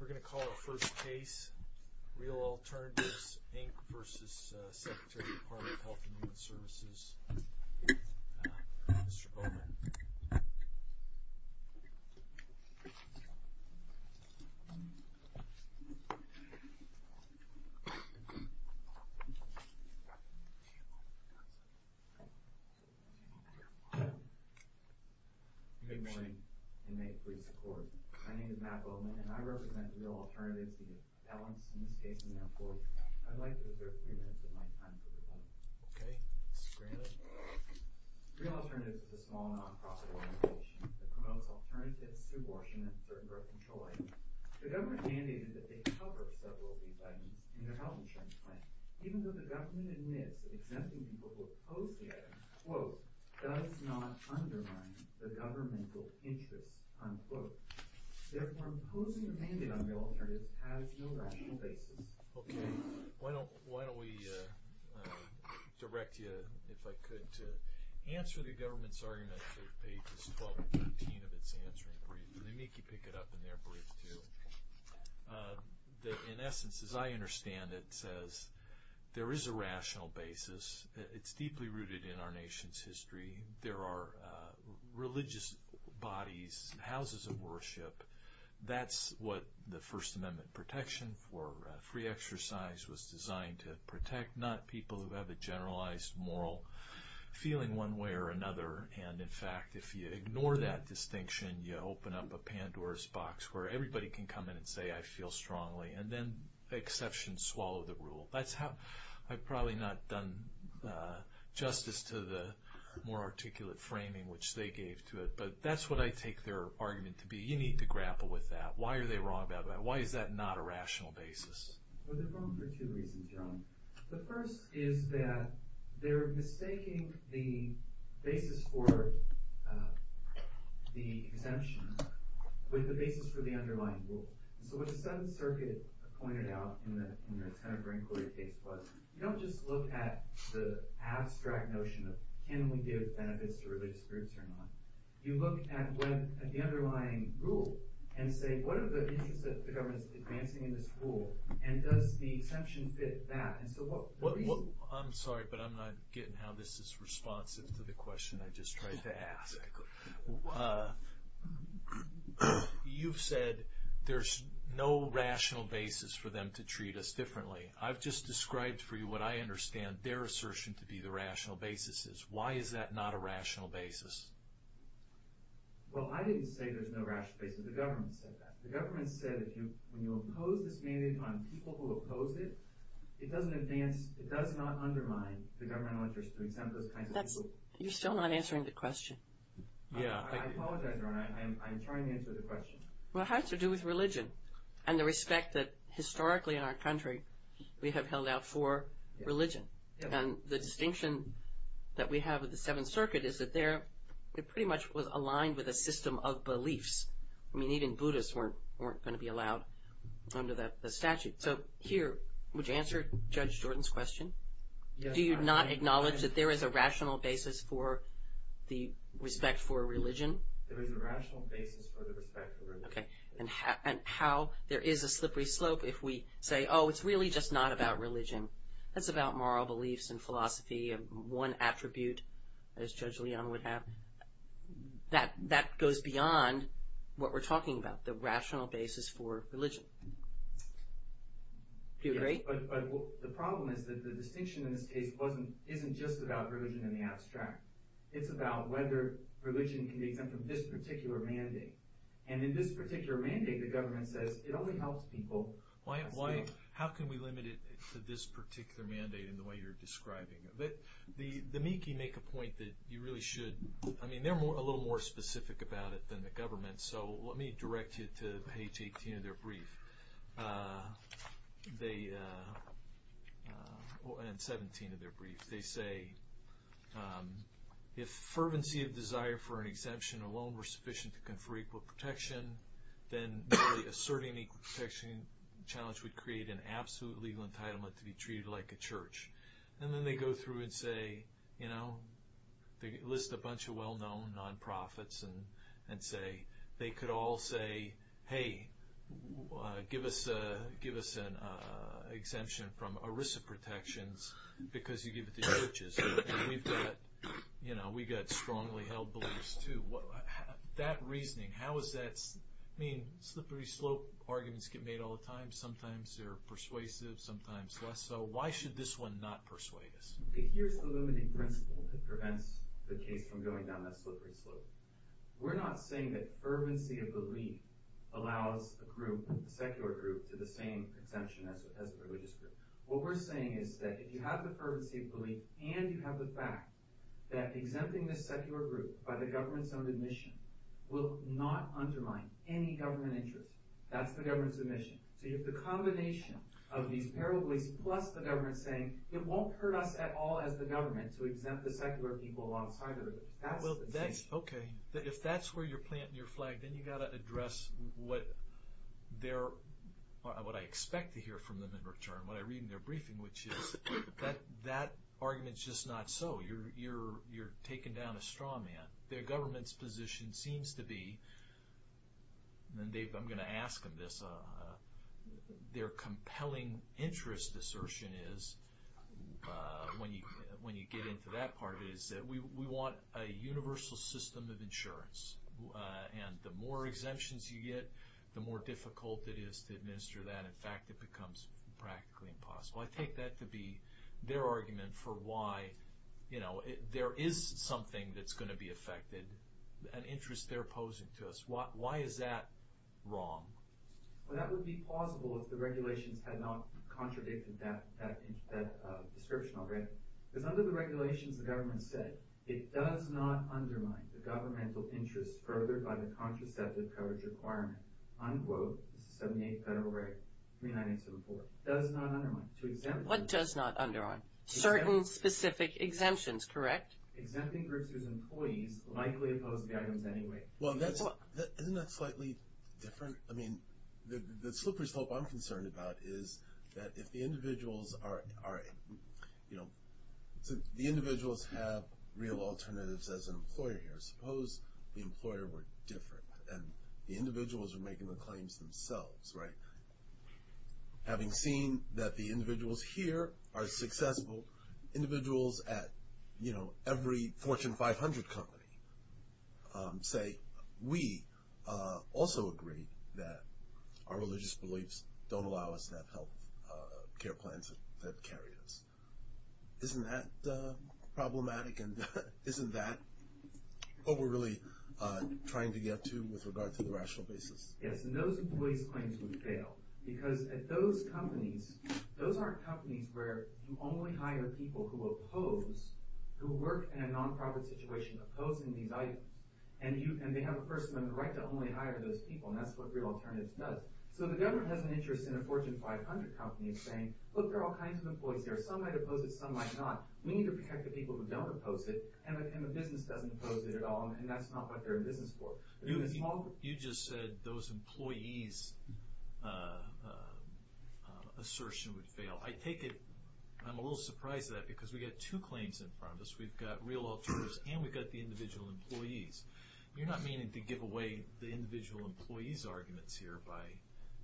We're going to call our first case, Real Alternatives Inc v. Secretary Dept of Health and Human Services, Mr. Bowman. Good morning and may it please the court. My name is Matt Bowman and I represent Real Alternatives Inc. I'd like to reserve three minutes of my time for this morning. Real Alternatives Inc. is a small non-profit organization that promotes alternatives to abortion and certain drug control items. The government mandated that they cover several of these items in their health insurance plan, even though the government admits that exempting people who oppose the item, quote, does not undermine the governmental interests, unquote. Therefore, imposing a mandate on Real Alternatives Inc. has no rational basis. Okay, why don't we direct you, if I could, to answer the government's argument on pages 12 and 13 of its answering brief. Let me pick it up in their brief, too. In essence, as I understand it, it says there is a rational basis. It's deeply rooted in our nation's history. There are religious bodies, houses of worship. That's what the First Amendment protection for free exercise was designed to protect, not people who have a generalized moral feeling one way or another. In fact, if you ignore that distinction, you open up a Pandora's box where everybody can come in and say, I feel strongly, and then exceptions swallow the rule. I've probably not done justice to the more articulate framing which they gave to it, but that's what I take their argument to be. You need to grapple with that. Why are they wrong about that? Why is that not a rational basis? Well, they're wrong for two reasons, John. The first is that they're mistaking the basis for the exemption with the basis for the underlying rule. So what the Seventh Circuit pointed out in its kind of brinkly case was, you don't just look at the abstract notion of can we give benefits to religious groups or not. You look at the underlying rule and say, what are the interests of the government advancing in this rule, and does the exemption fit that? And so what the reason— I'm sorry, but I'm not getting how this is responsive to the question I just tried to ask. You've said there's no rational basis for them to treat us differently. I've just described for you what I understand their assertion to be the rational basis is. Why is that not a rational basis? Well, I didn't say there's no rational basis. The government said that. The government said when you impose this mandate on people who oppose it, it doesn't advance—it does not undermine the governmental interest to exempt those kinds of people. You're still not answering the question. Yeah. I apologize, Ron. I'm trying to answer the question. Well, it has to do with religion and the respect that historically in our country we have held out for religion and the distinction that we have with the Seventh Circuit is that there it pretty much was aligned with a system of beliefs. I mean, even Buddhists weren't going to be allowed under the statute. So here, would you answer Judge Jordan's question? Do you not acknowledge that there is a rational basis for the respect for religion? There is a rational basis for the respect for religion. Okay. And how there is a slippery slope if we say, oh, it's really just not about religion. That's about moral beliefs and philosophy and one attribute, as Judge Leone would have. That goes beyond what we're talking about, the rational basis for religion. Do you agree? Yes, but the problem is that the distinction in this case isn't just about religion in the abstract. It's about whether religion can be exempt from this particular mandate. And in this particular mandate, the government says it only helps people. How can we limit it to this particular mandate in the way you're describing it? The Miki make a point that you really should. I mean, they're a little more specific about it than the government. So let me direct you to page 18 of their brief and 17 of their brief. They say, if fervency of desire for an exemption alone were sufficient to confer equal protection, then merely asserting an equal protection challenge would create an absolute legal entitlement to be treated like a church. And then they go through and say, you know, they list a bunch of well-known nonprofits and say, they could all say, hey, give us an exemption from ERISA protections because you give it to churches. And we've got, you know, we've got strongly held beliefs, too. That reasoning, how is that – I mean, slippery slope arguments get made all the time. Sometimes they're persuasive, sometimes less so. Why should this one not persuade us? Here's the limiting principle that prevents the case from going down that slippery slope. We're not saying that fervency of belief allows a group, a secular group, to the same exemption as a religious group. What we're saying is that if you have the fervency of belief and you have the fact that exempting this secular group by the government's own admission will not undermine any government interest, that's the government's admission. So you have the combination of these parable beliefs plus the government saying, it won't hurt us at all as the government to exempt the secular people alongside the religious. Well, that's – okay. If that's where you're planting your flag, then you've got to address what they're – what I expect to hear from them in return, what I read in their briefing, which is that argument's just not so. You're taking down a straw man. Their government's position seems to be – and I'm going to ask them this – their compelling interest assertion is, when you get into that part, is that we want a universal system of insurance. And the more exemptions you get, the more difficult it is to administer that. In fact, it becomes practically impossible. I take that to be their argument for why there is something that's going to be affected, an interest they're posing to us. Why is that wrong? Well, that would be plausible if the regulations had not contradicted that description already. Because under the regulations, the government said, it does not undermine the governmental interest furthered by the contraceptive coverage requirement. Unquote, this is 78th Federal Rate, 39874. Does not undermine. What does not undermine? Certain specific exemptions, correct? Exempting groups whose employees likely oppose the items anyway. Well, isn't that slightly different? I mean, the slippery slope I'm concerned about is that if the individuals are – the individuals have real alternatives as an employer here. Suppose the employer were different and the individuals were making the claims themselves, right? Having seen that the individuals here are successful, individuals at, you know, every Fortune 500 company say, we also agree that our religious beliefs don't allow us to have health care plans that carry us. Isn't that problematic? And isn't that what we're really trying to get to with regard to the rational basis? Yes, and those employees' claims would fail. Because at those companies, those aren't companies where you only hire people who oppose, who work in a nonprofit situation opposing these items. And they have a right to only hire those people, and that's what Real Alternatives does. So the government has an interest in a Fortune 500 company saying, look, there are all kinds of employees there. Some might oppose it, some might not. We need to protect the people who don't oppose it, and the business doesn't oppose it at all, and that's not what they're in business for. You just said those employees' assertion would fail. I take it, I'm a little surprised at that because we've got two claims in front of us. We've got Real Alternatives and we've got the individual employees. You're not meaning to give away the individual employees' arguments here by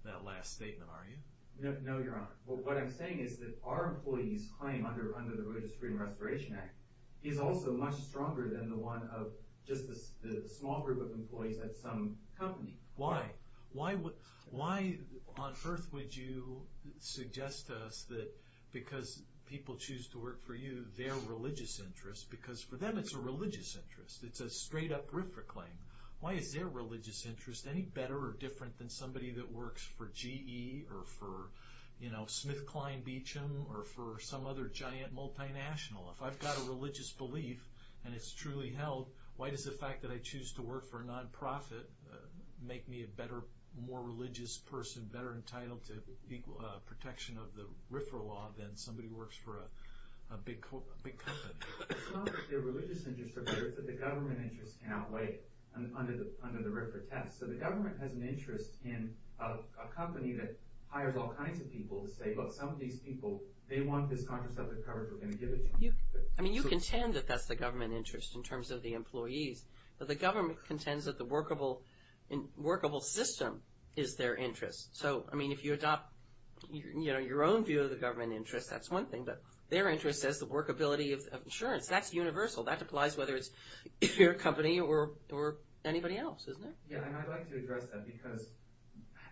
that last statement, are you? No, Your Honor. What I'm saying is that our employees' claim under the Religious Freedom Restoration Act is also much stronger than the one of just the small group of employees at some company. Why? Why on earth would you suggest to us that because people choose to work for you, their religious interest, because for them it's a religious interest. It's a straight-up RFRA claim. Why is their religious interest any better or different than somebody that works for GE or for, you know, SmithKline Beecham or for some other giant multinational? If I've got a religious belief and it's truly held, why does the fact that I choose to work for a nonprofit make me a better, more religious person, better entitled to protection of the RFRA law than somebody who works for a big company? It's not that their religious interests are better. It's that the government interest can outweigh under the RFRA test. So the government has an interest in a company that hires all kinds of people to say, look, some of these people, they want this contraceptive coverage, we're going to give it to them. I mean, you contend that that's the government interest in terms of the employees, but the government contends that the workable system is their interest. So, I mean, if you adopt, you know, your own view of the government interest, that's one thing, but their interest is the workability of insurance. That's universal. That applies whether it's your company or anybody else, isn't it? Yeah, and I'd like to address that because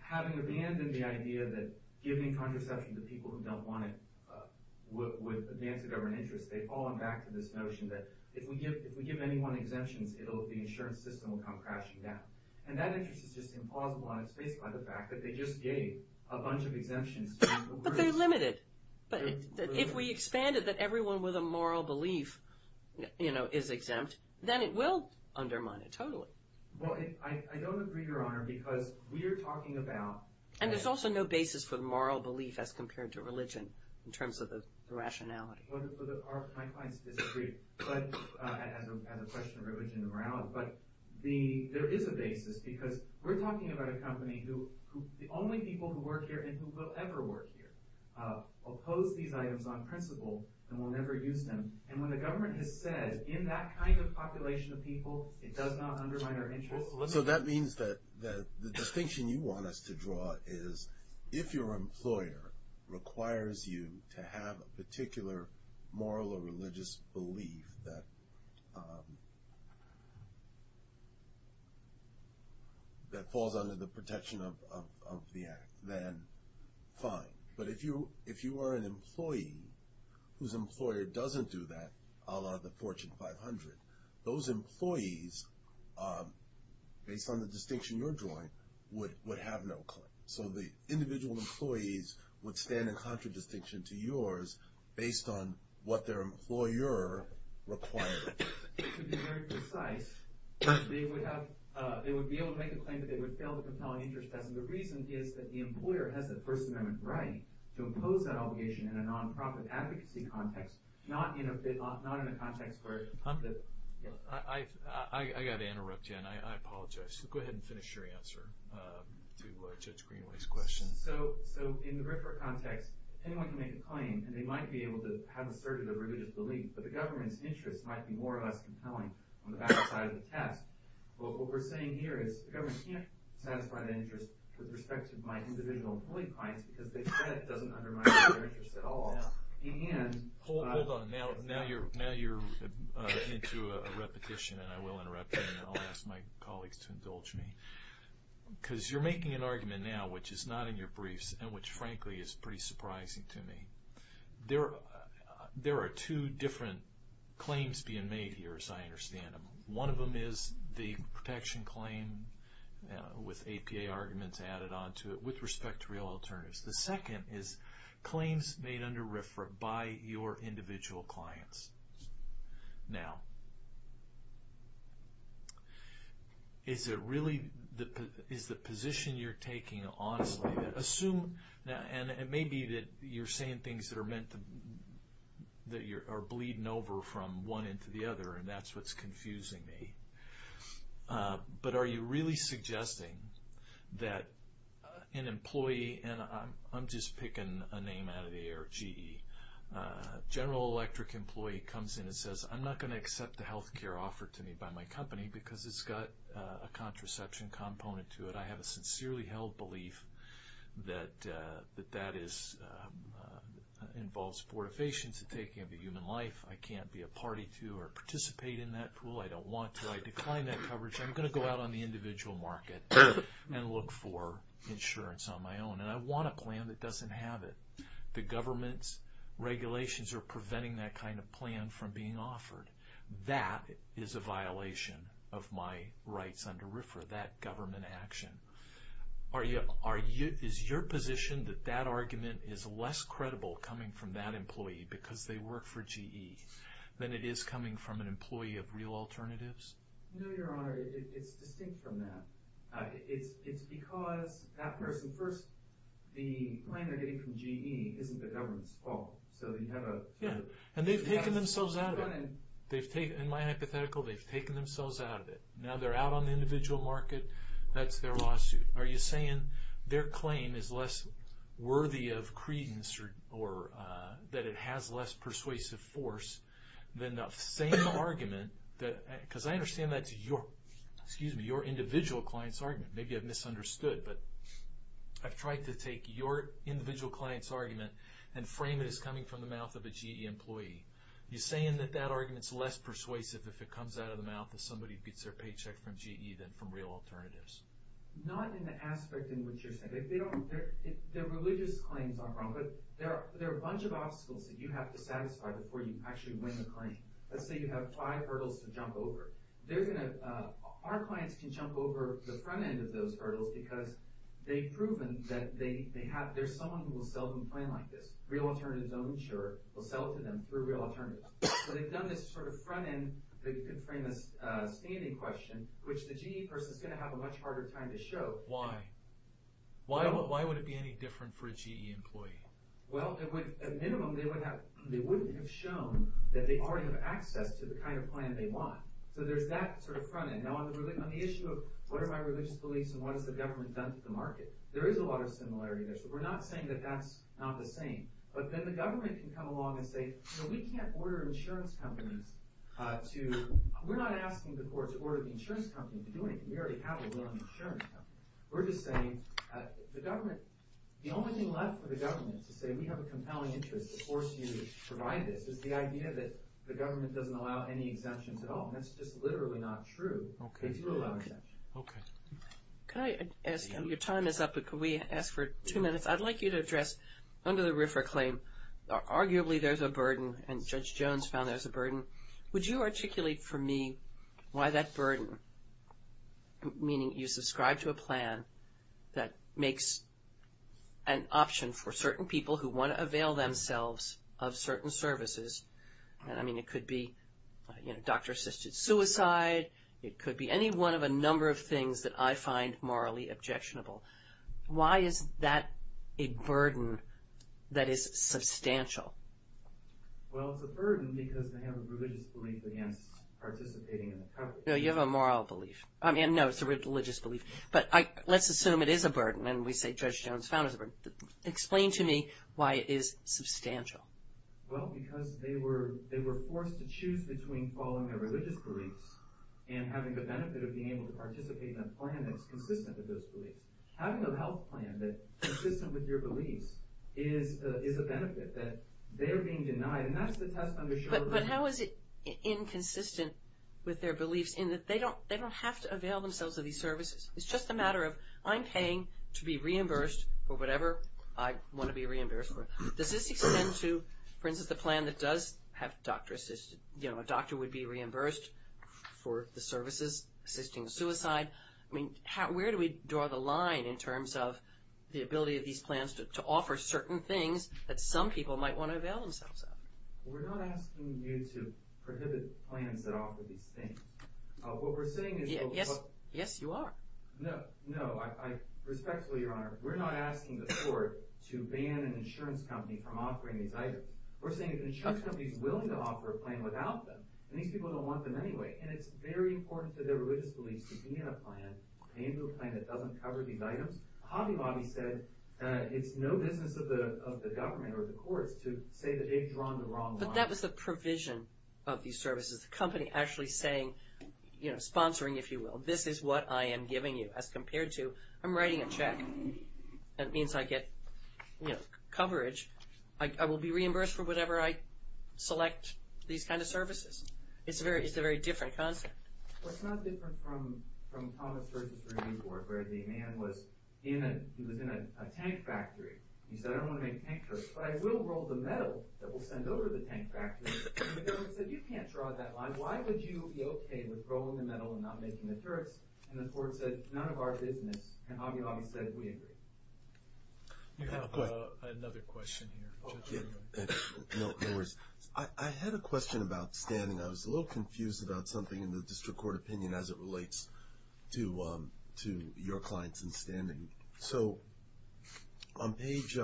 having abandoned the idea that giving contraception to people who don't want it would advance the government interest, they've fallen back to this notion that if we give anyone exemptions, the insurance system will come crashing down. And that interest is just implausible on its face by the fact that they just gave a bunch of exemptions. But they're limited. If we expanded that everyone with a moral belief, you know, is exempt, then it will undermine it totally. Well, I don't agree, Your Honor, because we are talking about And there's also no basis for moral belief as compared to religion in terms of the rationality. Well, my clients disagree as a question of religion and morality, but there is a basis because we're talking about a company who the only people who work here and who will ever work here oppose these items on principle and will never use them. And when the government has said in that kind of population of people, it does not undermine our interest. So that means that the distinction you want us to draw is, if your employer requires you to have a particular moral or religious belief that falls under the protection of the act, then fine. But if you are an employee whose employer doesn't do that, a la the Fortune 500, those employees, based on the distinction you're drawing, would have no claim. So the individual employees would stand in contradistinction to yours based on what their employer requires. To be very precise, they would be able to make a claim that they would fail the compelling interest test. And the reason is that the employer has the First Amendment right to impose that obligation in a nonprofit advocacy context, not in a context where the- I got to interrupt you, and I apologize. Go ahead and finish your answer to Judge Greenway's question. So in the RFRA context, anyone can make a claim, and they might be able to have asserted a religious belief, but the government's interest might be more or less compelling on the back side of the test. What we're saying here is the government can't satisfy that interest with respect to my individual employee clients because they said it doesn't undermine their interest at all. Hold on. Now you're into a repetition, and I will interrupt you, and I'll ask my colleagues to indulge me. Because you're making an argument now which is not in your briefs and which, frankly, is pretty surprising to me. There are two different claims being made here, as I understand them. One of them is the protection claim with APA arguments added onto it with respect to real alternatives. The second is claims made under RFRA by your individual clients. Now, is it really- is the position you're taking honestly- and it may be that you're saying things that are meant to- that are bleeding over from one end to the other, and that's what's confusing me. But are you really suggesting that an employee- and I'm just picking a name out of the air. General Electric employee comes in and says, I'm not going to accept the health care offered to me by my company because it's got a contraception component to it. I have a sincerely held belief that that involves fortification to take into human life. I can't be a party to or participate in that pool. I don't want to. I decline that coverage. I'm going to go out on the individual market and look for insurance on my own. And I want a plan that doesn't have it. The government's regulations are preventing that kind of plan from being offered. That is a violation of my rights under RFRA, that government action. Are you- is your position that that argument is less credible coming from that employee because they work for GE than it is coming from an employee of Real Alternatives? No, Your Honor. It's distinct from that. It's because that person first- the plan they're getting from GE isn't the government's fault. So you have a- Yeah. And they've taken themselves out of it. In my hypothetical, they've taken themselves out of it. Now they're out on the individual market. That's their lawsuit. Are you saying their claim is less worthy of credence or that it has less persuasive force than the same argument that- because I understand that's your- excuse me- your individual client's argument. Maybe I've misunderstood, but I've tried to take your individual client's argument and frame it as coming from the mouth of a GE employee. Are you saying that that argument's less persuasive if it comes out of the mouth of somebody who gets their paycheck from GE than from Real Alternatives? Not in the aspect in which you're saying. They don't- their religious claims aren't wrong, but there are a bunch of obstacles that you have to satisfy before you actually win the claim. Let's say you have five hurdles to jump over. They're going to- our clients can jump over the front end of those hurdles because they've proven that they have- there's someone who will sell them a plan like this. Real Alternatives, I'm sure, will sell it to them through Real Alternatives. So they've done this sort of front end- you could frame this as a standing question, which the GE person's going to have a much harder time to show. Why? Why would it be any different for a GE employee? Well, it would- at minimum, they would have- they wouldn't have shown that they already have access to the kind of plan they want. So there's that sort of front end. Now on the issue of what are my religious beliefs and what has the government done to the market, there is a lot of similarity there. So we're not saying that that's not the same. But then the government can come along and say, you know, we can't order insurance companies to- we already have a loan insurance company. We're just saying the government- the only thing left for the government to say, we have a compelling interest to force you to provide this, is the idea that the government doesn't allow any exemptions at all. And that's just literally not true. They do allow exemptions. Okay. Can I ask- your time is up, but can we ask for two minutes? I'd like you to address under the RFRA claim, arguably there's a burden, and Judge Jones found there's a burden. Would you articulate for me why that burden, meaning you subscribe to a plan that makes an option for certain people who want to avail themselves of certain services, and I mean it could be, you know, doctor-assisted suicide. It could be any one of a number of things that I find morally objectionable. Why is that a burden that is substantial? Well, it's a burden because they have a religious belief against participating in recovery. No, you have a moral belief. I mean, no, it's a religious belief, but let's assume it is a burden, and we say Judge Jones found it's a burden. Explain to me why it is substantial. Well, because they were forced to choose between following their religious beliefs and having the benefit of being able to participate in a plan that's consistent with those beliefs. Having a health plan that's consistent with your beliefs is a benefit, that they're being denied, and that's the test I'm assuring you. But how is it inconsistent with their beliefs in that they don't have to avail themselves of these services? It's just a matter of I'm paying to be reimbursed for whatever I want to be reimbursed for. Does this extend to, for instance, the plan that does have doctor-assisted, you know, a doctor would be reimbursed for the services assisting suicide. I mean, where do we draw the line in terms of the ability of these plans to offer certain things that some people might want to avail themselves of? Well, we're not asking you to prohibit plans that offer these things. What we're saying is... Yes, you are. No, respectfully, Your Honor, we're not asking the court to ban an insurance company from offering these either. We're saying if an insurance company is willing to offer a plan without them, and these people don't want them anyway, and it's very important to their religious beliefs to be in a plan that doesn't cover these items. Hobby Lobby said it's no business of the government or the courts to say that they've drawn the wrong line. But that was the provision of these services. The company actually saying, you know, sponsoring, if you will. This is what I am giving you as compared to I'm writing a check. That means I get, you know, coverage. I will be reimbursed for whatever I select these kind of services. It's a very different concept. Well, it's not different from Thomas Church's review board where the man was in a tank factory. He said, I don't want to make a tank truck, but I will roll the metal that we'll send over to the tank factory. And the government said, you can't draw that line. Why would you be okay with rolling the metal and not making the turrets? And the court said, none of our business. And Hobby Lobby said, we agree. You have another question here. No worries. I had a question about standing. I was a little confused about something in the district court opinion as it relates to your clients and standing. So on page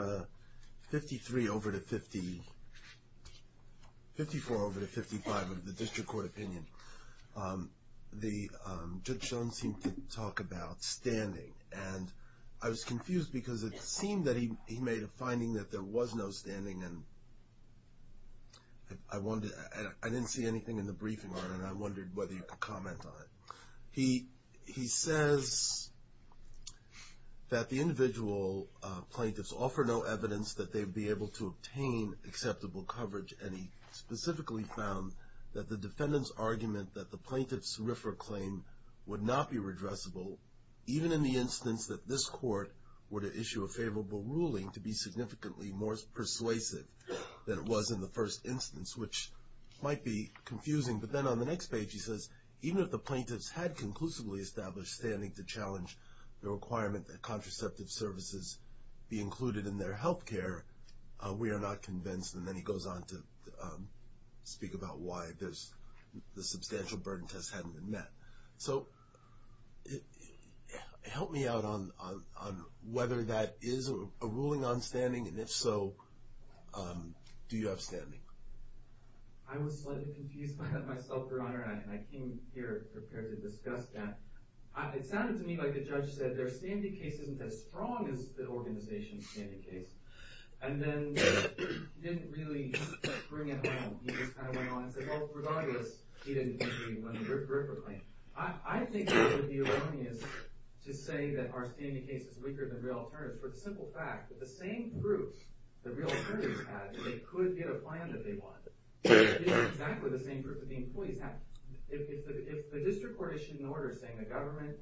53 over to 50, 54 over to 55 of the district court opinion, the judge seemed to talk about standing. And I was confused because it seemed that he made a finding that there was no standing. And I didn't see anything in the briefing on it, and I wondered whether you could comment on it. He says that the individual plaintiffs offer no evidence that they would be able to obtain acceptable coverage. And he specifically found that the defendant's argument that the plaintiff's RFRA claim would not be redressable, even in the instance that this court were to issue a favorable ruling, to be significantly more persuasive than it was in the first instance, which might be confusing. But then on the next page he says, even if the plaintiffs had conclusively established standing to challenge the requirement that contraceptive services be included in their health care, we are not convinced. And then he goes on to speak about why the substantial burden test hadn't been met. So help me out on whether that is a ruling on standing, and if so, do you have standing? I was slightly confused by that myself, Your Honor, and I came here prepared to discuss that. It sounded to me like the judge said their standing case isn't as strong as the organization's standing case. And then he didn't really bring it home. He just kind of went on and said, well, regardless, he didn't agree with the RFRA claim. I think it would be erroneous to say that our standing case is weaker than Real Alternatives for the simple fact that the same group that Real Alternatives had, they could get a plan that they want. It's exactly the same group that the employees have. If the district court issued an order saying the government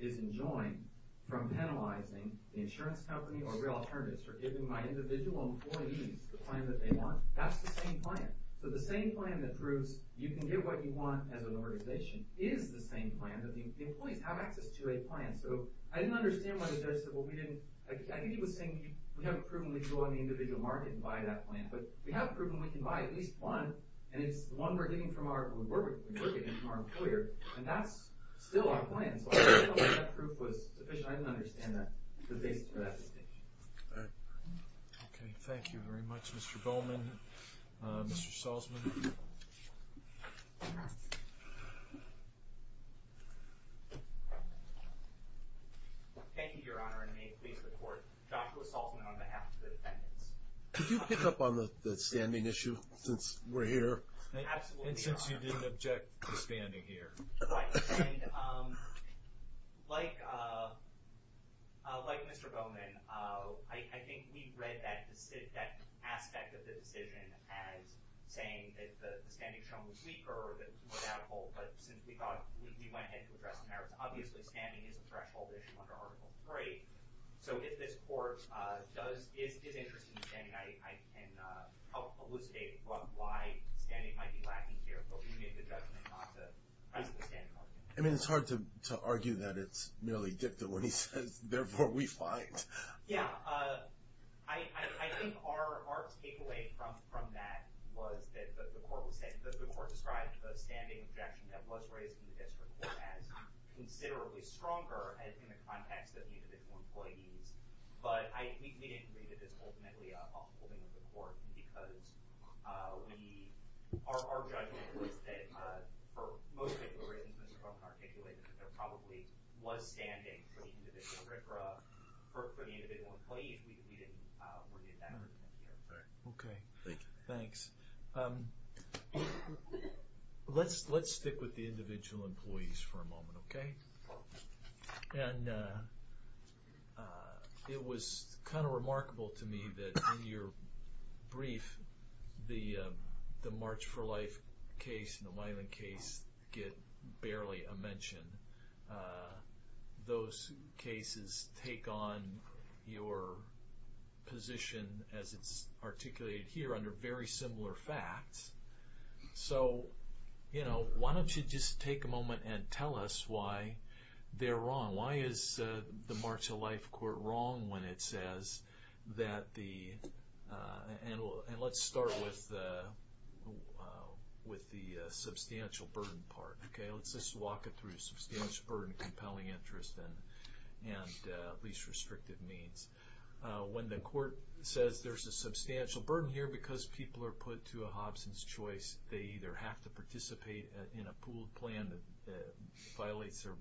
is enjoined from penalizing the insurance company or Real Alternatives for giving my individual employees the plan that they want, that's the same plan. So the same plan that proves you can get what you want as an organization is the same plan that the employees have access to a plan. So I didn't understand why the judge said, well, we didn't – I think he was saying we haven't proven we can go out in the individual market and buy that plan. But we have proven we can buy at least one, and it's the one we're giving from our – we're giving it to our employer, and that's still our plan. So I don't know why that proof was sufficient. I didn't understand the basis for that distinction. All right. Okay. Thank you very much, Mr. Bowman. Mr. Salzman. Thank you, Your Honor, and may it please the Court, Joshua Salzman on behalf of the defendants. Could you pick up on the standing issue since we're here? Absolutely, Your Honor. And since you didn't object to standing here. Right. And like Mr. Bowman, I think we read that aspect of the decision as saying that the standing shown was weaker or that it was more doubtful, but since we thought – we went ahead to address the merits. Obviously, standing is a threshold issue under Article 3. So if this Court is interested in standing, I can help elucidate why standing might be lacking here, but we made the judgment not to present the standing argument. I mean, it's hard to argue that it's merely dicta when he says, therefore, we find. Yeah. I think our takeaway from that was that the Court described the standing objection that was raised in the district as considerably stronger in the context of individual employees, but we didn't read it as ultimately a holding of the Court because our judgment was that, for most likely reasons Mr. Bowman articulated, that there probably was standing for the individual employees. We didn't read that argument here. All right. Okay. Thank you. Thanks. Let's stick with the individual employees for a moment, okay? And it was kind of remarkable to me that in your brief, the March for Life case and the Weiland case get barely a mention. Those cases take on your position as it's articulated here under very similar facts. So, you know, why don't you just take a moment and tell us why they're wrong? Why is the March for Life Court wrong when it says that the – and let's start with the substantial burden part, okay? Let's just walk it through. Substantial burden, compelling interest, and least restrictive means. When the Court says there's a substantial burden here because people are put to a Hobson's choice, they either have to participate in a pooled plan that violates their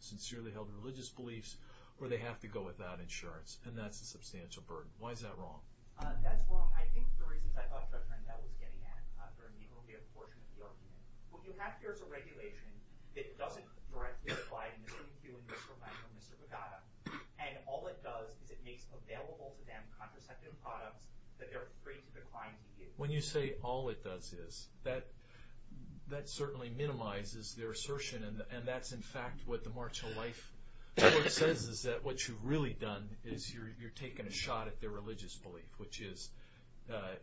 sincerely held religious beliefs, or they have to go without insurance. And that's a substantial burden. Why is that wrong? That's wrong. I think the reasons I thought Judge Rendell was getting at during the opiate portion of the argument, what you have here is a regulation that doesn't directly apply to Mr. McEwen, Mr. Rendell, Mr. Pagata. And all it does is it makes available to them contraceptive products that they're free to the client to get. When you say all it does is, that certainly minimizes their assertion, and that's in fact what the March for Life Court says is that what you've really done is you're taking a shot at their religious belief, which is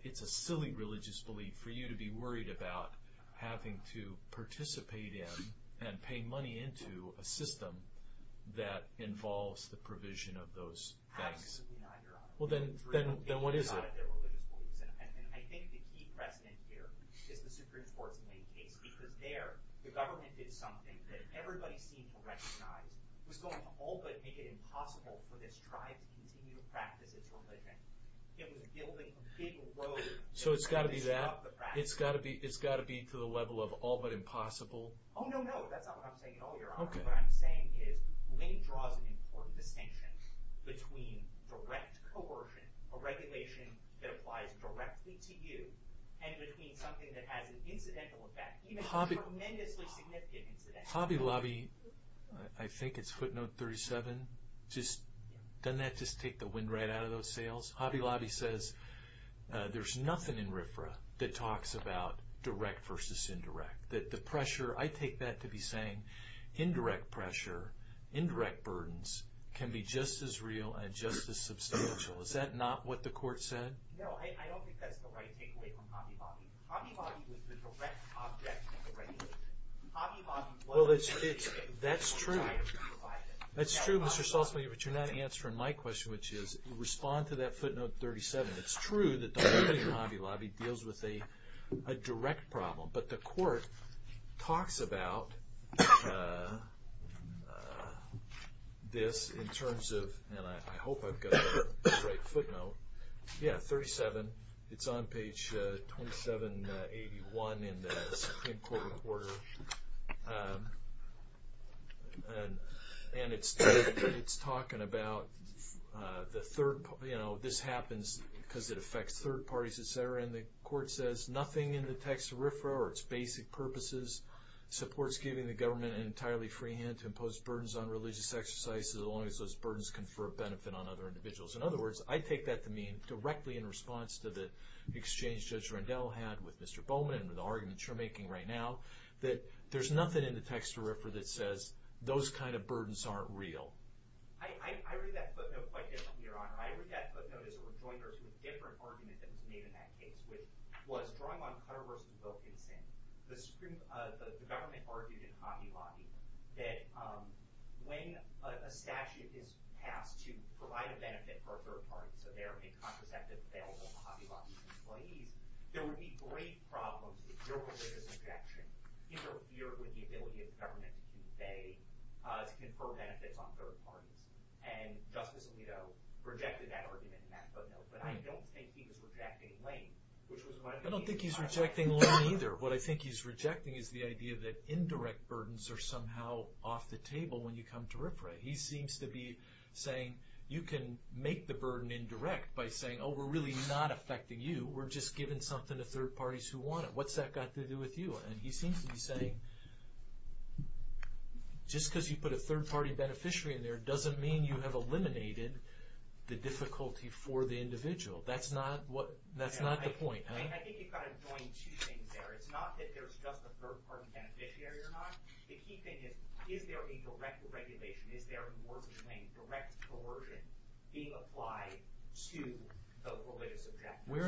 it's a silly religious belief for you to be worried about having to participate in and pay money into a system that involves the provision of those things. Absolutely not, Your Honor. Well, then what is it? You're taking a shot at their religious beliefs. And I think the key precedent here is the Supreme Court's main case, because there the government did something that everybody seemed to recognize was going to all but make it impossible for this tribe to continue to practice its religion. It was building a big road. So it's got to be that? It's got to be to the level of all but impossible? Oh, no, no. That's not what I'm saying at all, Your Honor. Okay. What I'm saying is Lynn draws an important distinction between direct coercion, a regulation that applies directly to you, and between something that has an incidental effect, even a tremendously significant incident. Hobby Lobby, I think it's footnote 37, doesn't that just take the wind right out of those sails? Hobby Lobby says there's nothing in RFRA that talks about direct versus indirect, that the pressure, I take that to be saying indirect pressure, indirect burdens, can be just as real and just as substantial. Is that not what the court said? No, I don't think that's the right takeaway from Hobby Lobby. Hobby Lobby was the direct object of the regulation. Hobby Lobby wasn't the object of the regulation. That's true. That's true, Mr. Salzman, but you're not answering my question, which is respond to that footnote 37. It's true that the law in Hobby Lobby deals with a direct problem, but the court talks about this in terms of, and I hope I've got the right footnote, yeah, 37, it's on page 2781 in the Supreme Court Reporter, and it's talking about this happens because it affects third parties, et cetera, and the court says nothing in the text of RFRA or its basic purposes supports giving the government an entirely free hand to impose burdens on religious exercises as long as those burdens confer a benefit on other individuals. In other words, I take that to mean directly in response to the exchange Judge Rendell had with Mr. Bowman and the arguments you're making right now, that there's nothing in the text of RFRA that says those kind of burdens aren't real. I read that footnote quite differently, Your Honor. I read that footnote as a rejoinder to a different argument that was made in that case, which was drawing on Cutler v. Wilkinson, the government argued in Hobby Lobby that when a statute is passed to provide a benefit for a third party, so there are a contraceptive available to Hobby Lobby's employees, there would be great problems if your religious objection interfered with the ability of government to convey, to confer benefits on third parties, and Justice Alito rejected that argument in that footnote, but I don't think he was rejecting Lane, which was my opinion. I don't think he's rejecting Lane either. What I think he's rejecting is the idea that indirect burdens are somehow off the table when you come to RFRA. He seems to be saying you can make the burden indirect by saying, oh, we're really not affecting you. We're just giving something to third parties who want it. What's that got to do with you? And he seems to be saying just because you put a third party beneficiary in there doesn't mean you have eliminated the difficulty for the individual. That's not the point. I think you've got to join two things there. It's not that there's just a third party beneficiary or not. The key thing is, is there a direct regulation? Is there, in the words of Lane, direct coercion being applied to the religious objection? Where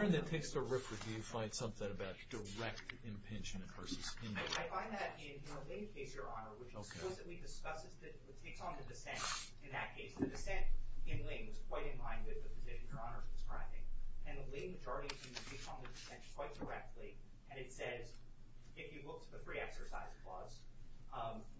in the text of RFRA do you find something about direct impingement versus indirect coercion? I find that in the Lane case, Your Honor, which explicitly discusses what takes on the dissent in that case. The dissent in Lane was quite in line with the position Your Honor is describing. And the Lane majority seems to take on the dissent quite directly. And it says, if you look to the free exercise clause,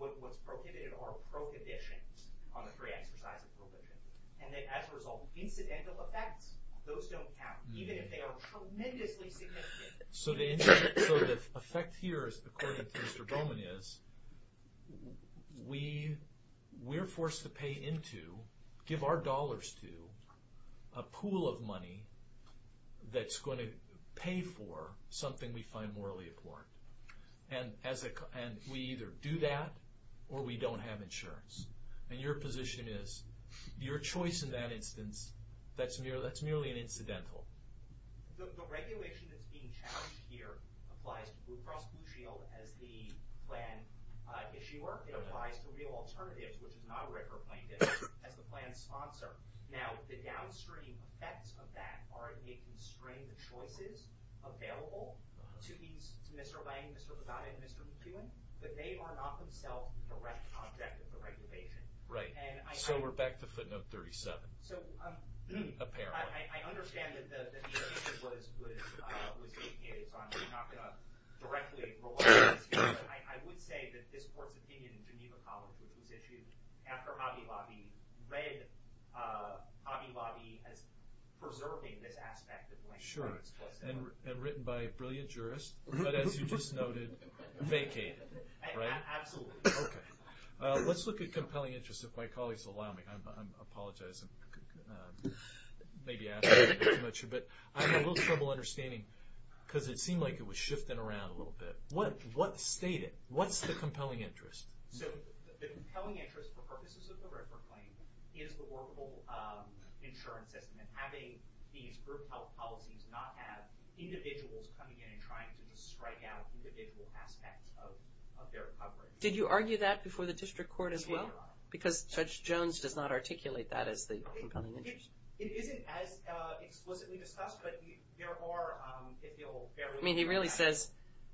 what's prohibited are prohibitions on the free exercise of prohibition. And as a result, incidental effects, those don't count, even if they are tremendously significant. So the effect here, according to Mr. Bowman, is we're forced to pay into, give our dollars to, a pool of money that's going to pay for something we find morally important. And we either do that or we don't have insurance. And your position is, your choice in that instance, that's merely an incidental. The regulation that's being challenged here applies to Blue Cross Blue Shield as the plan issuer. It applies to Real Alternatives, which is an authority for plaintiffs, as the plan sponsor. Now, the downstream effects of that are a constraint of choices available to Mr. Lane, Mr. Bowman, and Mr. McEwen. But they are not themselves direct object of the regulation. Right. So we're back to footnote 37. Apparently. I understand that the issue was vacated, so I'm not going to directly rely on this here. But I would say that this Court's opinion in Geneva College, which was issued after Hobby Lobby, read Hobby Lobby as preserving this aspect of Blue Cross Blue Shield. Sure, and written by a brilliant jurist, but as you just noted, vacated. Absolutely. Okay. Let's look at compelling interest, if my colleagues will allow me. I apologize. Maybe I'm asking too much. But I had a little trouble understanding, because it seemed like it was shifting around a little bit. What state it? What's the compelling interest? So the compelling interest, for purposes of the Ripper claim, is the workable insurance system. And having these group health policies not have individuals coming in and trying to strike out individual aspects of their coverage. Did you argue that before the district court as well? Yes, I did. Because Judge Jones does not articulate that as the compelling interest. It isn't as explicitly discussed, but there are, if you'll bear with me. I mean, he really says,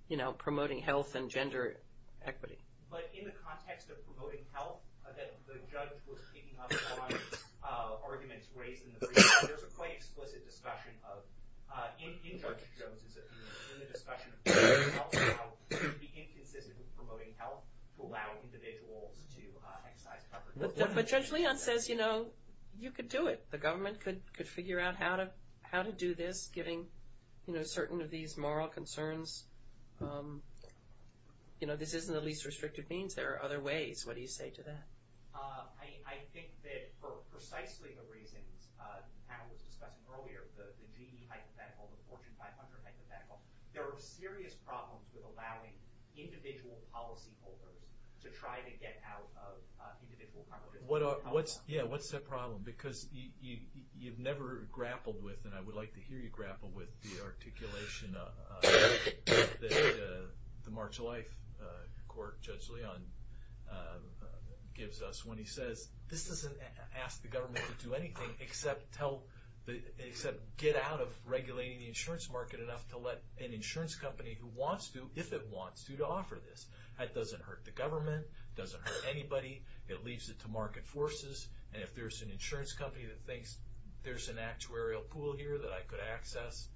you know, promoting health and gender equity. But in the context of promoting health, that the judge was picking up on arguments raised in the brief, there's a quite explicit discussion of, in Judge Jones' opinion, in the discussion of promoting health, how it would be inconsistent with promoting health, to allow individuals to exercise coverage. But Judge Leon says, you know, you could do it. The government could figure out how to do this, giving certain of these moral concerns. You know, this isn't the least restrictive means. There are other ways. What do you say to that? I think that for precisely the reasons the panel was discussing earlier, the GE hypothetical, the Fortune 500 hypothetical, there are serious problems with allowing individual policyholders to try to get out of individual coverage. Yeah, what's the problem? Because you've never grappled with, and I would like to hear you grapple with, the articulation that the March of Life court, Judge Leon, gives us when he says, this doesn't ask the government to do anything except get out of regulating the insurance market enough to let an insurance company who wants to, if it wants to, to offer this. That doesn't hurt the government. It doesn't hurt anybody. It leaves it to market forces. And if there's an insurance company that thinks, there's an actuarial pool here that I could access,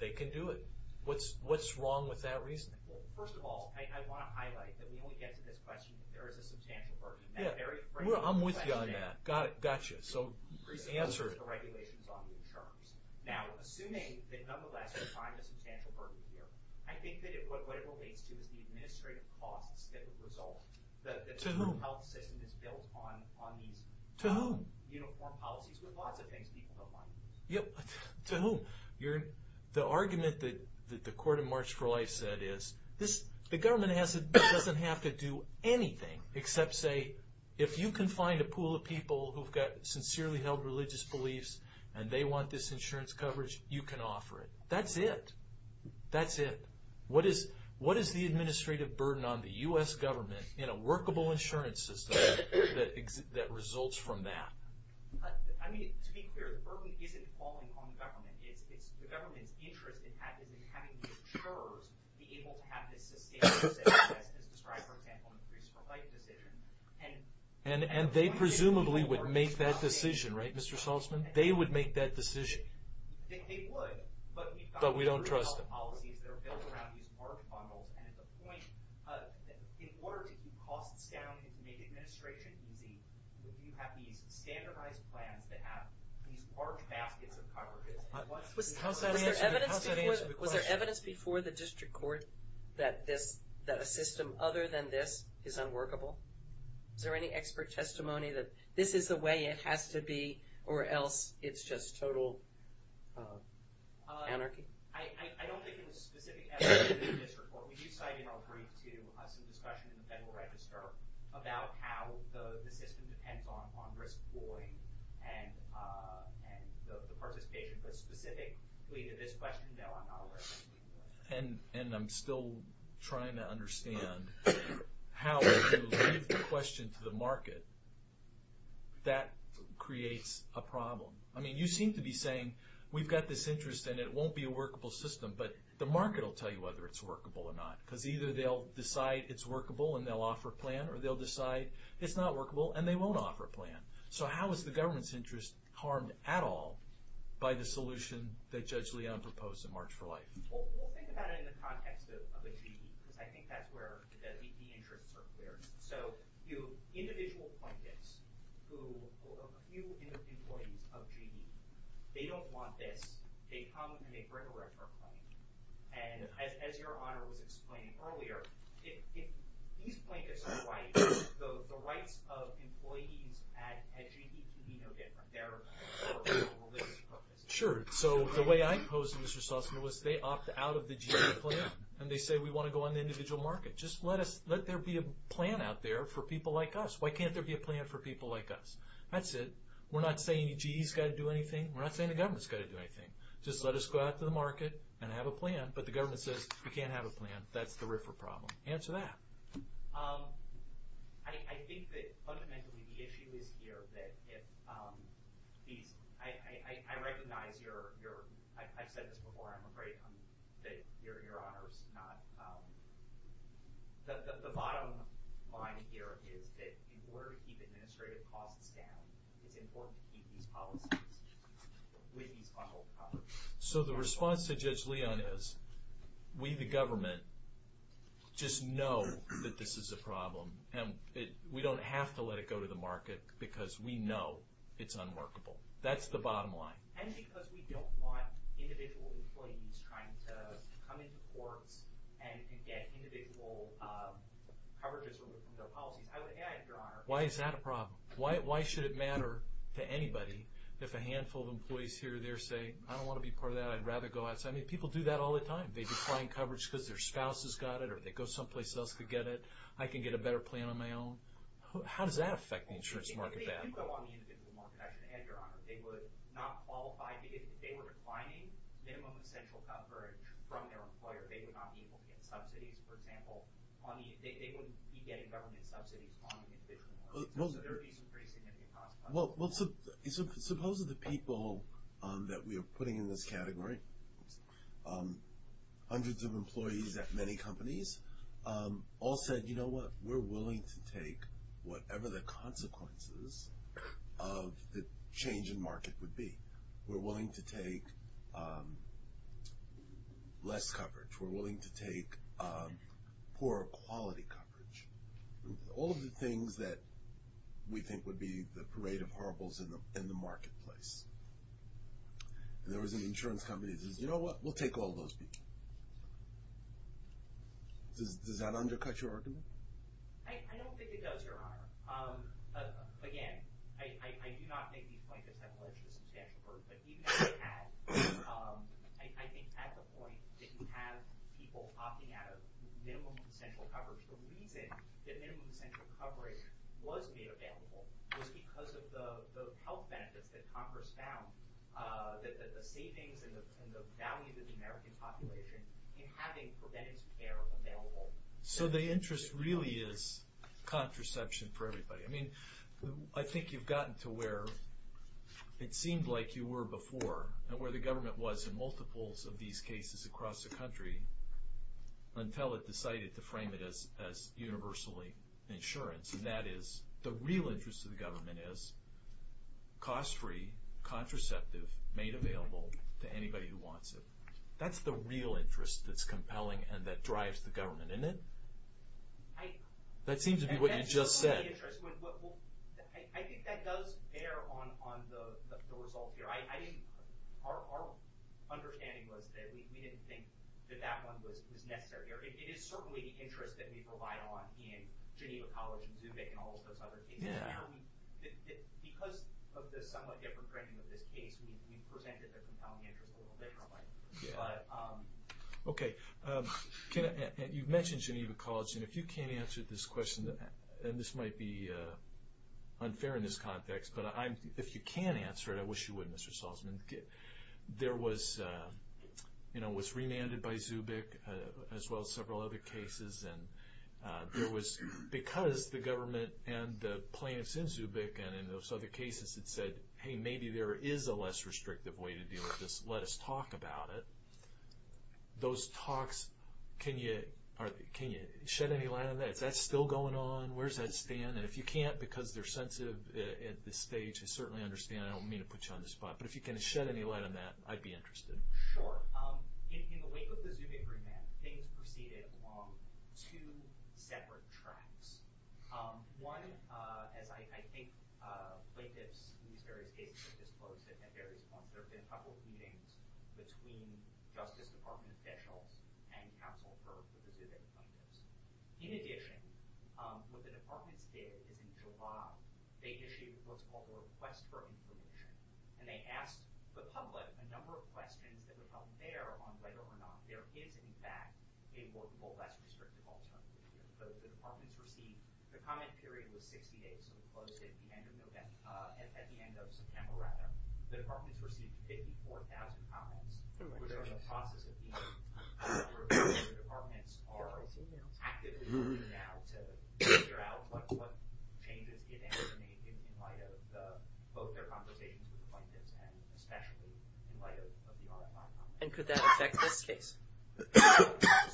they can do it. What's wrong with that reasoning? Well, first of all, I want to highlight that we only get to this question if there is a substantial burden. I'm with you on that. Gotcha. So answer it. Now, assuming that, nonetheless, we find a substantial burden here, I think that what it relates to is the administrative costs that result. To whom? To whom? To whom? The argument that the court in March for Life said is, the government doesn't have to do anything except say, if you can find a pool of people who've got sincerely held religious beliefs and they want this insurance coverage, you can offer it. That's it. That's it. What is the administrative burden on the U.S. government in a workable insurance system that results from that? I mean, to be clear, the burden isn't falling on the government. The government's interest, in fact, is in having the insurers be able to have this sustainable success, as described, for example, in the Peace for Life decision. And they presumably would make that decision, right, Mr. Saltzman? They would make that decision. They would, but we don't trust them. ...policies that are built around these large bundles. And at the point, in order to keep costs down and to make administration easy, you have these standardized plans that have these large baskets of coverage. Was there evidence before the district court that a system other than this is unworkable? Is there any expert testimony that this is the way it has to be, or else it's just total anarchy? I don't think there was specific evidence in the district court. We do cite in our brief, too, some discussion in the Federal Register about how the system depends on risk avoidance and the participation, but specifically to this question, no, I'm not aware of anything like that. And I'm still trying to understand how, if you leave the question to the market, that creates a problem. I mean, you seem to be saying, we've got this interest and it won't be a workable system, but the market will tell you whether it's workable or not. Because either they'll decide it's workable and they'll offer a plan, or they'll decide it's not workable and they won't offer a plan. So how is the government's interest harmed at all by the solution that Judge Leon proposed in March for Life? Well, we'll think about it in the context of a GE, because I think that's where the interests are clear. So you have individual plaintiffs who are a few employees of GE. They don't want this. They come and they bring a record claim. And as Your Honor was explaining earlier, if these plaintiffs are right, the rights of employees at GE can be no different. They're for religious purposes. Sure. So the way I posed it, Mr. Sossin, was they opt out of the GE plan, and they say, we want to go on the individual market. Just let there be a plan out there for people like us. Why can't there be a plan for people like us? That's it. We're not saying GE's got to do anything. We're not saying the government's got to do anything. Just let us go out to the market and have a plan. But the government says we can't have a plan. That's the RIFRA problem. Answer that. I think that fundamentally the issue is here that if these – I recognize you're – I've said this before. I'm afraid that Your Honor's not – the bottom line here is that in order to keep administrative costs down, it's important to keep these policies with these local governments. So the response to Judge Leon is we, the government, just know that this is a problem. And we don't have to let it go to the market because we know it's unworkable. That's the bottom line. And because we don't want individual employees trying to come into courts and get individual coverages from their policies. I would add, Your Honor – Why is that a problem? Why should it matter to anybody if a handful of employees here or there say, I don't want to be part of that. I'd rather go outside. I mean, people do that all the time. They decline coverage because their spouse has got it or they go someplace else to get it. I can get a better plan on my own. How does that affect the insurance market then? If they do go on the individual market, actually, and Your Honor, they would not qualify because if they were declining minimum essential coverage from their employer, they would not be able to get subsidies. For example, they wouldn't be getting government subsidies on the individual. So there would be some pretty significant costs. Well, suppose that the people that we are putting in this category, hundreds of employees at many companies, all said, you know what, we're willing to take whatever the consequences of the change in market would be. We're willing to take less coverage. We're willing to take poor quality coverage. All of the things that we think would be the parade of horribles in the marketplace. There was an insurance company that says, you know what, we'll take all those people. Does that undercut your argument? I don't think it does, Your Honor. Again, I do not think these plaintiffs have alleged a substantial burden, but even if they had, I think at the point that you have people opting out of minimum essential coverage, the reason that minimum essential coverage was made available was because of the health benefits that Congress found that the savings and the value of the American population in having preventive care available. So the interest really is contraception for everybody. I mean, I think you've gotten to where it seemed like you were before and where the government was in multiples of these cases across the country until it decided to frame it as universally insurance, and that is the real interest of the government is cost-free, contraceptive, made available to anybody who wants it. That's the real interest that's compelling and that drives the government, isn't it? That seems to be what you just said. I think that does bear on the result here. Our understanding was that we didn't think that that one was necessary. It is certainly the interest that we provide on in Geneva College and Zubik and all of those other cases. Because of the somewhat different framing of this case, we presented the compelling interest a little differently. Okay. You mentioned Geneva College, and if you can't answer this question, and this might be unfair in this context, but if you can answer it, I wish you would, Mr. Salzman. It was remanded by Zubik as well as several other cases, and because the government and the plaintiffs in Zubik and in those other cases had said, hey, maybe there is a less restrictive way to deal with this. Let us talk about it. Those talks, can you shed any light on that? Is that still going on? Where does that stand? And if you can't, because they're sensitive at this stage, I certainly understand. I don't mean to put you on the spot. But if you can shed any light on that, I'd be interested. Sure. In the wake of the Zubik remand, things proceeded along two separate tracks. One, as I think plaintiffs in these various cases have disclosed, there have been a couple of meetings between Justice Department officials and counsel for the Zubik plaintiffs. In addition, what the departments did is, in July, they issued what's called a request for information, and they asked the public a number of questions that were out there on whether or not there is, in fact, a more or less restrictive alternative. The comment period was 68, so it closed at the end of September. The departments received 54,000 comments, which are in the process of being approved. And the departments are actively working now to figure out what changes it has made in light of both their conversations with the plaintiffs and especially in light of the RFI comments. And could that affect this case?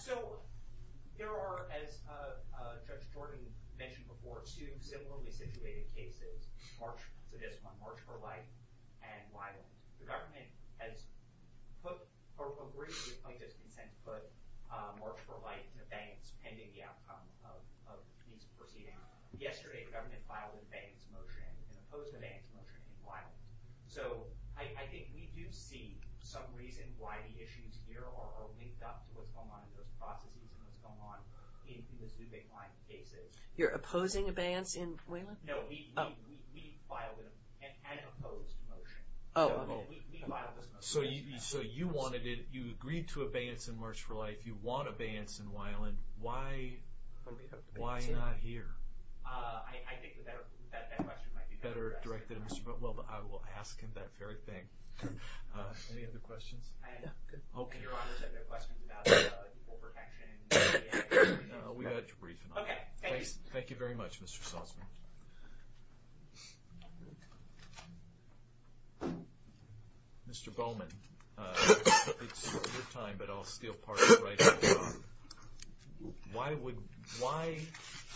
So there are, as Judge Jordan mentioned before, two similarly situated cases, March, so just one, March for Life and Wyland. The government has put, or agreed to the plaintiffs' consent, put March for Life in abeyance pending the outcome of these proceedings. Yesterday, the government filed an abeyance motion, an opposed abeyance motion in Wyland. So I think we do see some reason why the issues here are linked up to what's going on in those processes and what's going on in the Zubik cases. You're opposing abeyance in Wyland? No, we filed an opposed motion. So you wanted it. You agreed to abeyance in March for Life. You want abeyance in Wyland. Why not here? I think that that question might be better addressed. Better directed at Mr. Butwell, but I will ask him that very thing. Any other questions? Okay. Your Honor, if there are questions about equal protection. No, we've had to brief him on that. Okay, thank you. Thank you very much, Mr. Salzman. Mr. Bowman, it's your time, but I'll steal part of the writing. Why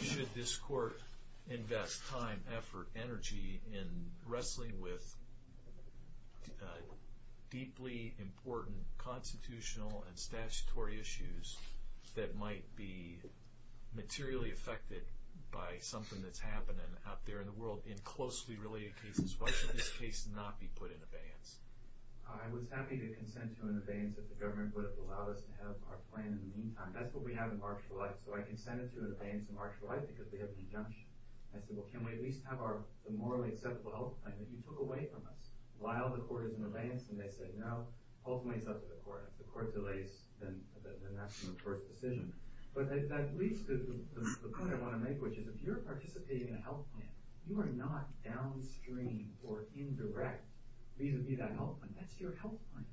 should this court invest time, effort, energy in wrestling with deeply important constitutional and statutory issues that might be materially affected by something that's happening out there in the world in closely related cases? Why should this case not be put in abeyance? I was happy to consent to an abeyance if the government would have allowed us to have our plan in the meantime. That's what we have in March for Life, so I consented to an abeyance in March for Life because we have a dejunction. I said, well, can we at least have the morally acceptable health plan that you took away from us? While the court is in abeyance, and they said no, ultimately it's up to the court. If the court delays, then that's the first decision. You are not downstream or indirect vis-a-vis that health plan. That's your health plan.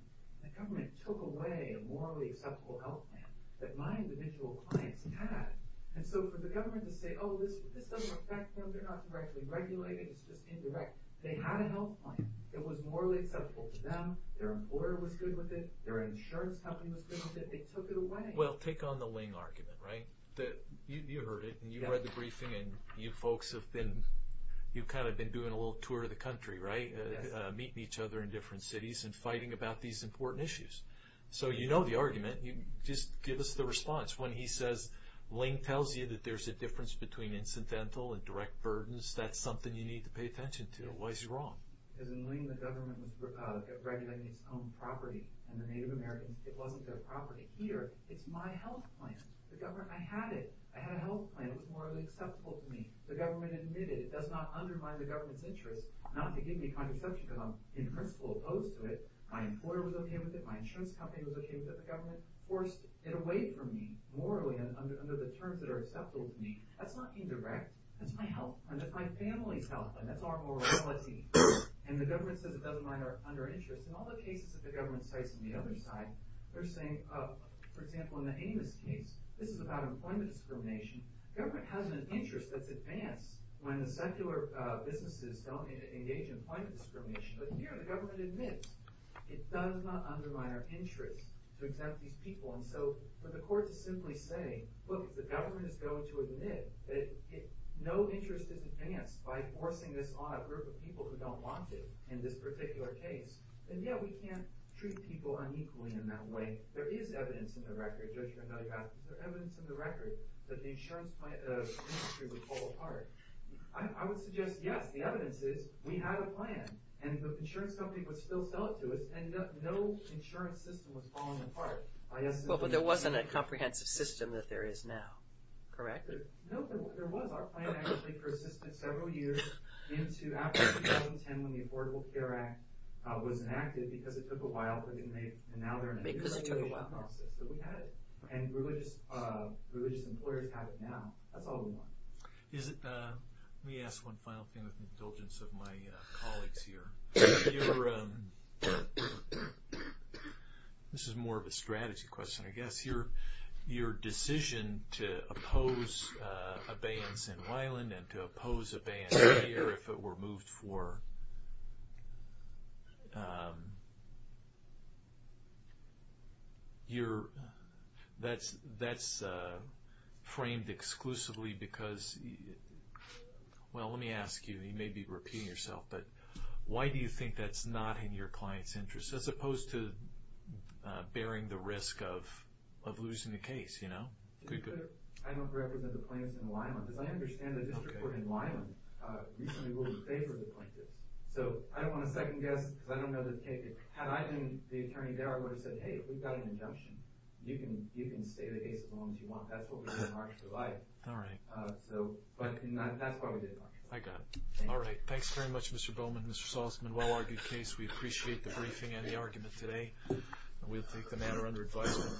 The government took away a morally acceptable health plan that my individual clients had. And so for the government to say, oh, this doesn't affect them, they're not directly regulated, it's just indirect. They had a health plan that was morally acceptable to them. Their employer was good with it. Their insurance company was good with it. They took it away. Well, take on the Ling argument, right? You heard it, and you read the briefing, and you folks have been doing a little tour of the country, right? Yes. Meeting each other in different cities and fighting about these important issues. So you know the argument. Just give us the response. When he says Ling tells you that there's a difference between incidental and direct burdens, that's something you need to pay attention to. Why is he wrong? Because in Ling, the government was regulating its own property, and the Native Americans, it wasn't their property. Here, it's my health plan. I had it. I had a health plan. It was morally acceptable to me. The government admitted it does not undermine the government's interest not to give me contraception because I'm, in principle, opposed to it. My employer was okay with it. My insurance company was okay with it. The government forced it away from me morally under the terms that are acceptable to me. That's not indirect. That's my health plan. That's my family's health plan. That's our morality. And the government says it doesn't matter, under interest. In all the cases that the government cites on the other side, they're saying, for example, in the Amos case, this is about employment discrimination. Government has an interest that's advanced when the secular businesses don't engage in employment discrimination. But here, the government admits it does not undermine our interest to exempt these people. And so for the court to simply say, look, the government is going to admit that no interest is advanced by forcing this on a group of people who don't want to in this particular case, then, yeah, we can't treat people unequally in that way. There is evidence in the record that the insurance industry would fall apart. I would suggest, yes, the evidence is we had a plan, and the insurance company would still sell it to us, and no insurance system was falling apart. But there wasn't a comprehensive system that there is now, correct? No, there was. Our plan actually persisted several years into after 2010 when the Affordable Care Act was enacted, because it took a while. And now they're in a new regulation. Because it took a while. So we had it. And religious employers have it now. That's all we want. Let me ask one final thing with indulgence of my colleagues here. This is more of a strategy question, I guess. Your decision to oppose abeyance in Weiland and to oppose abeyance here if it were moved for... That's framed exclusively because... Well, let me ask you. You may be repeating yourself, but why do you think that's not in your client's interest? As opposed to bearing the risk of losing the case, you know? I don't represent the plaintiffs in Weiland. As I understand, the district court in Weiland recently ruled in favor of the plaintiffs. So I don't want to second guess, because I don't know the case. Had I been the attorney there, I would have said, hey, we've got an injunction. You can stay the case as long as you want. That's what we did in March of July. All right. But that's why we did it in March of July. I got it. All right. Thanks very much, Mr. Bowman, Mr. Salzman. Well-argued case. We appreciate the briefing and the argument today. And we'll take the matter under advisement.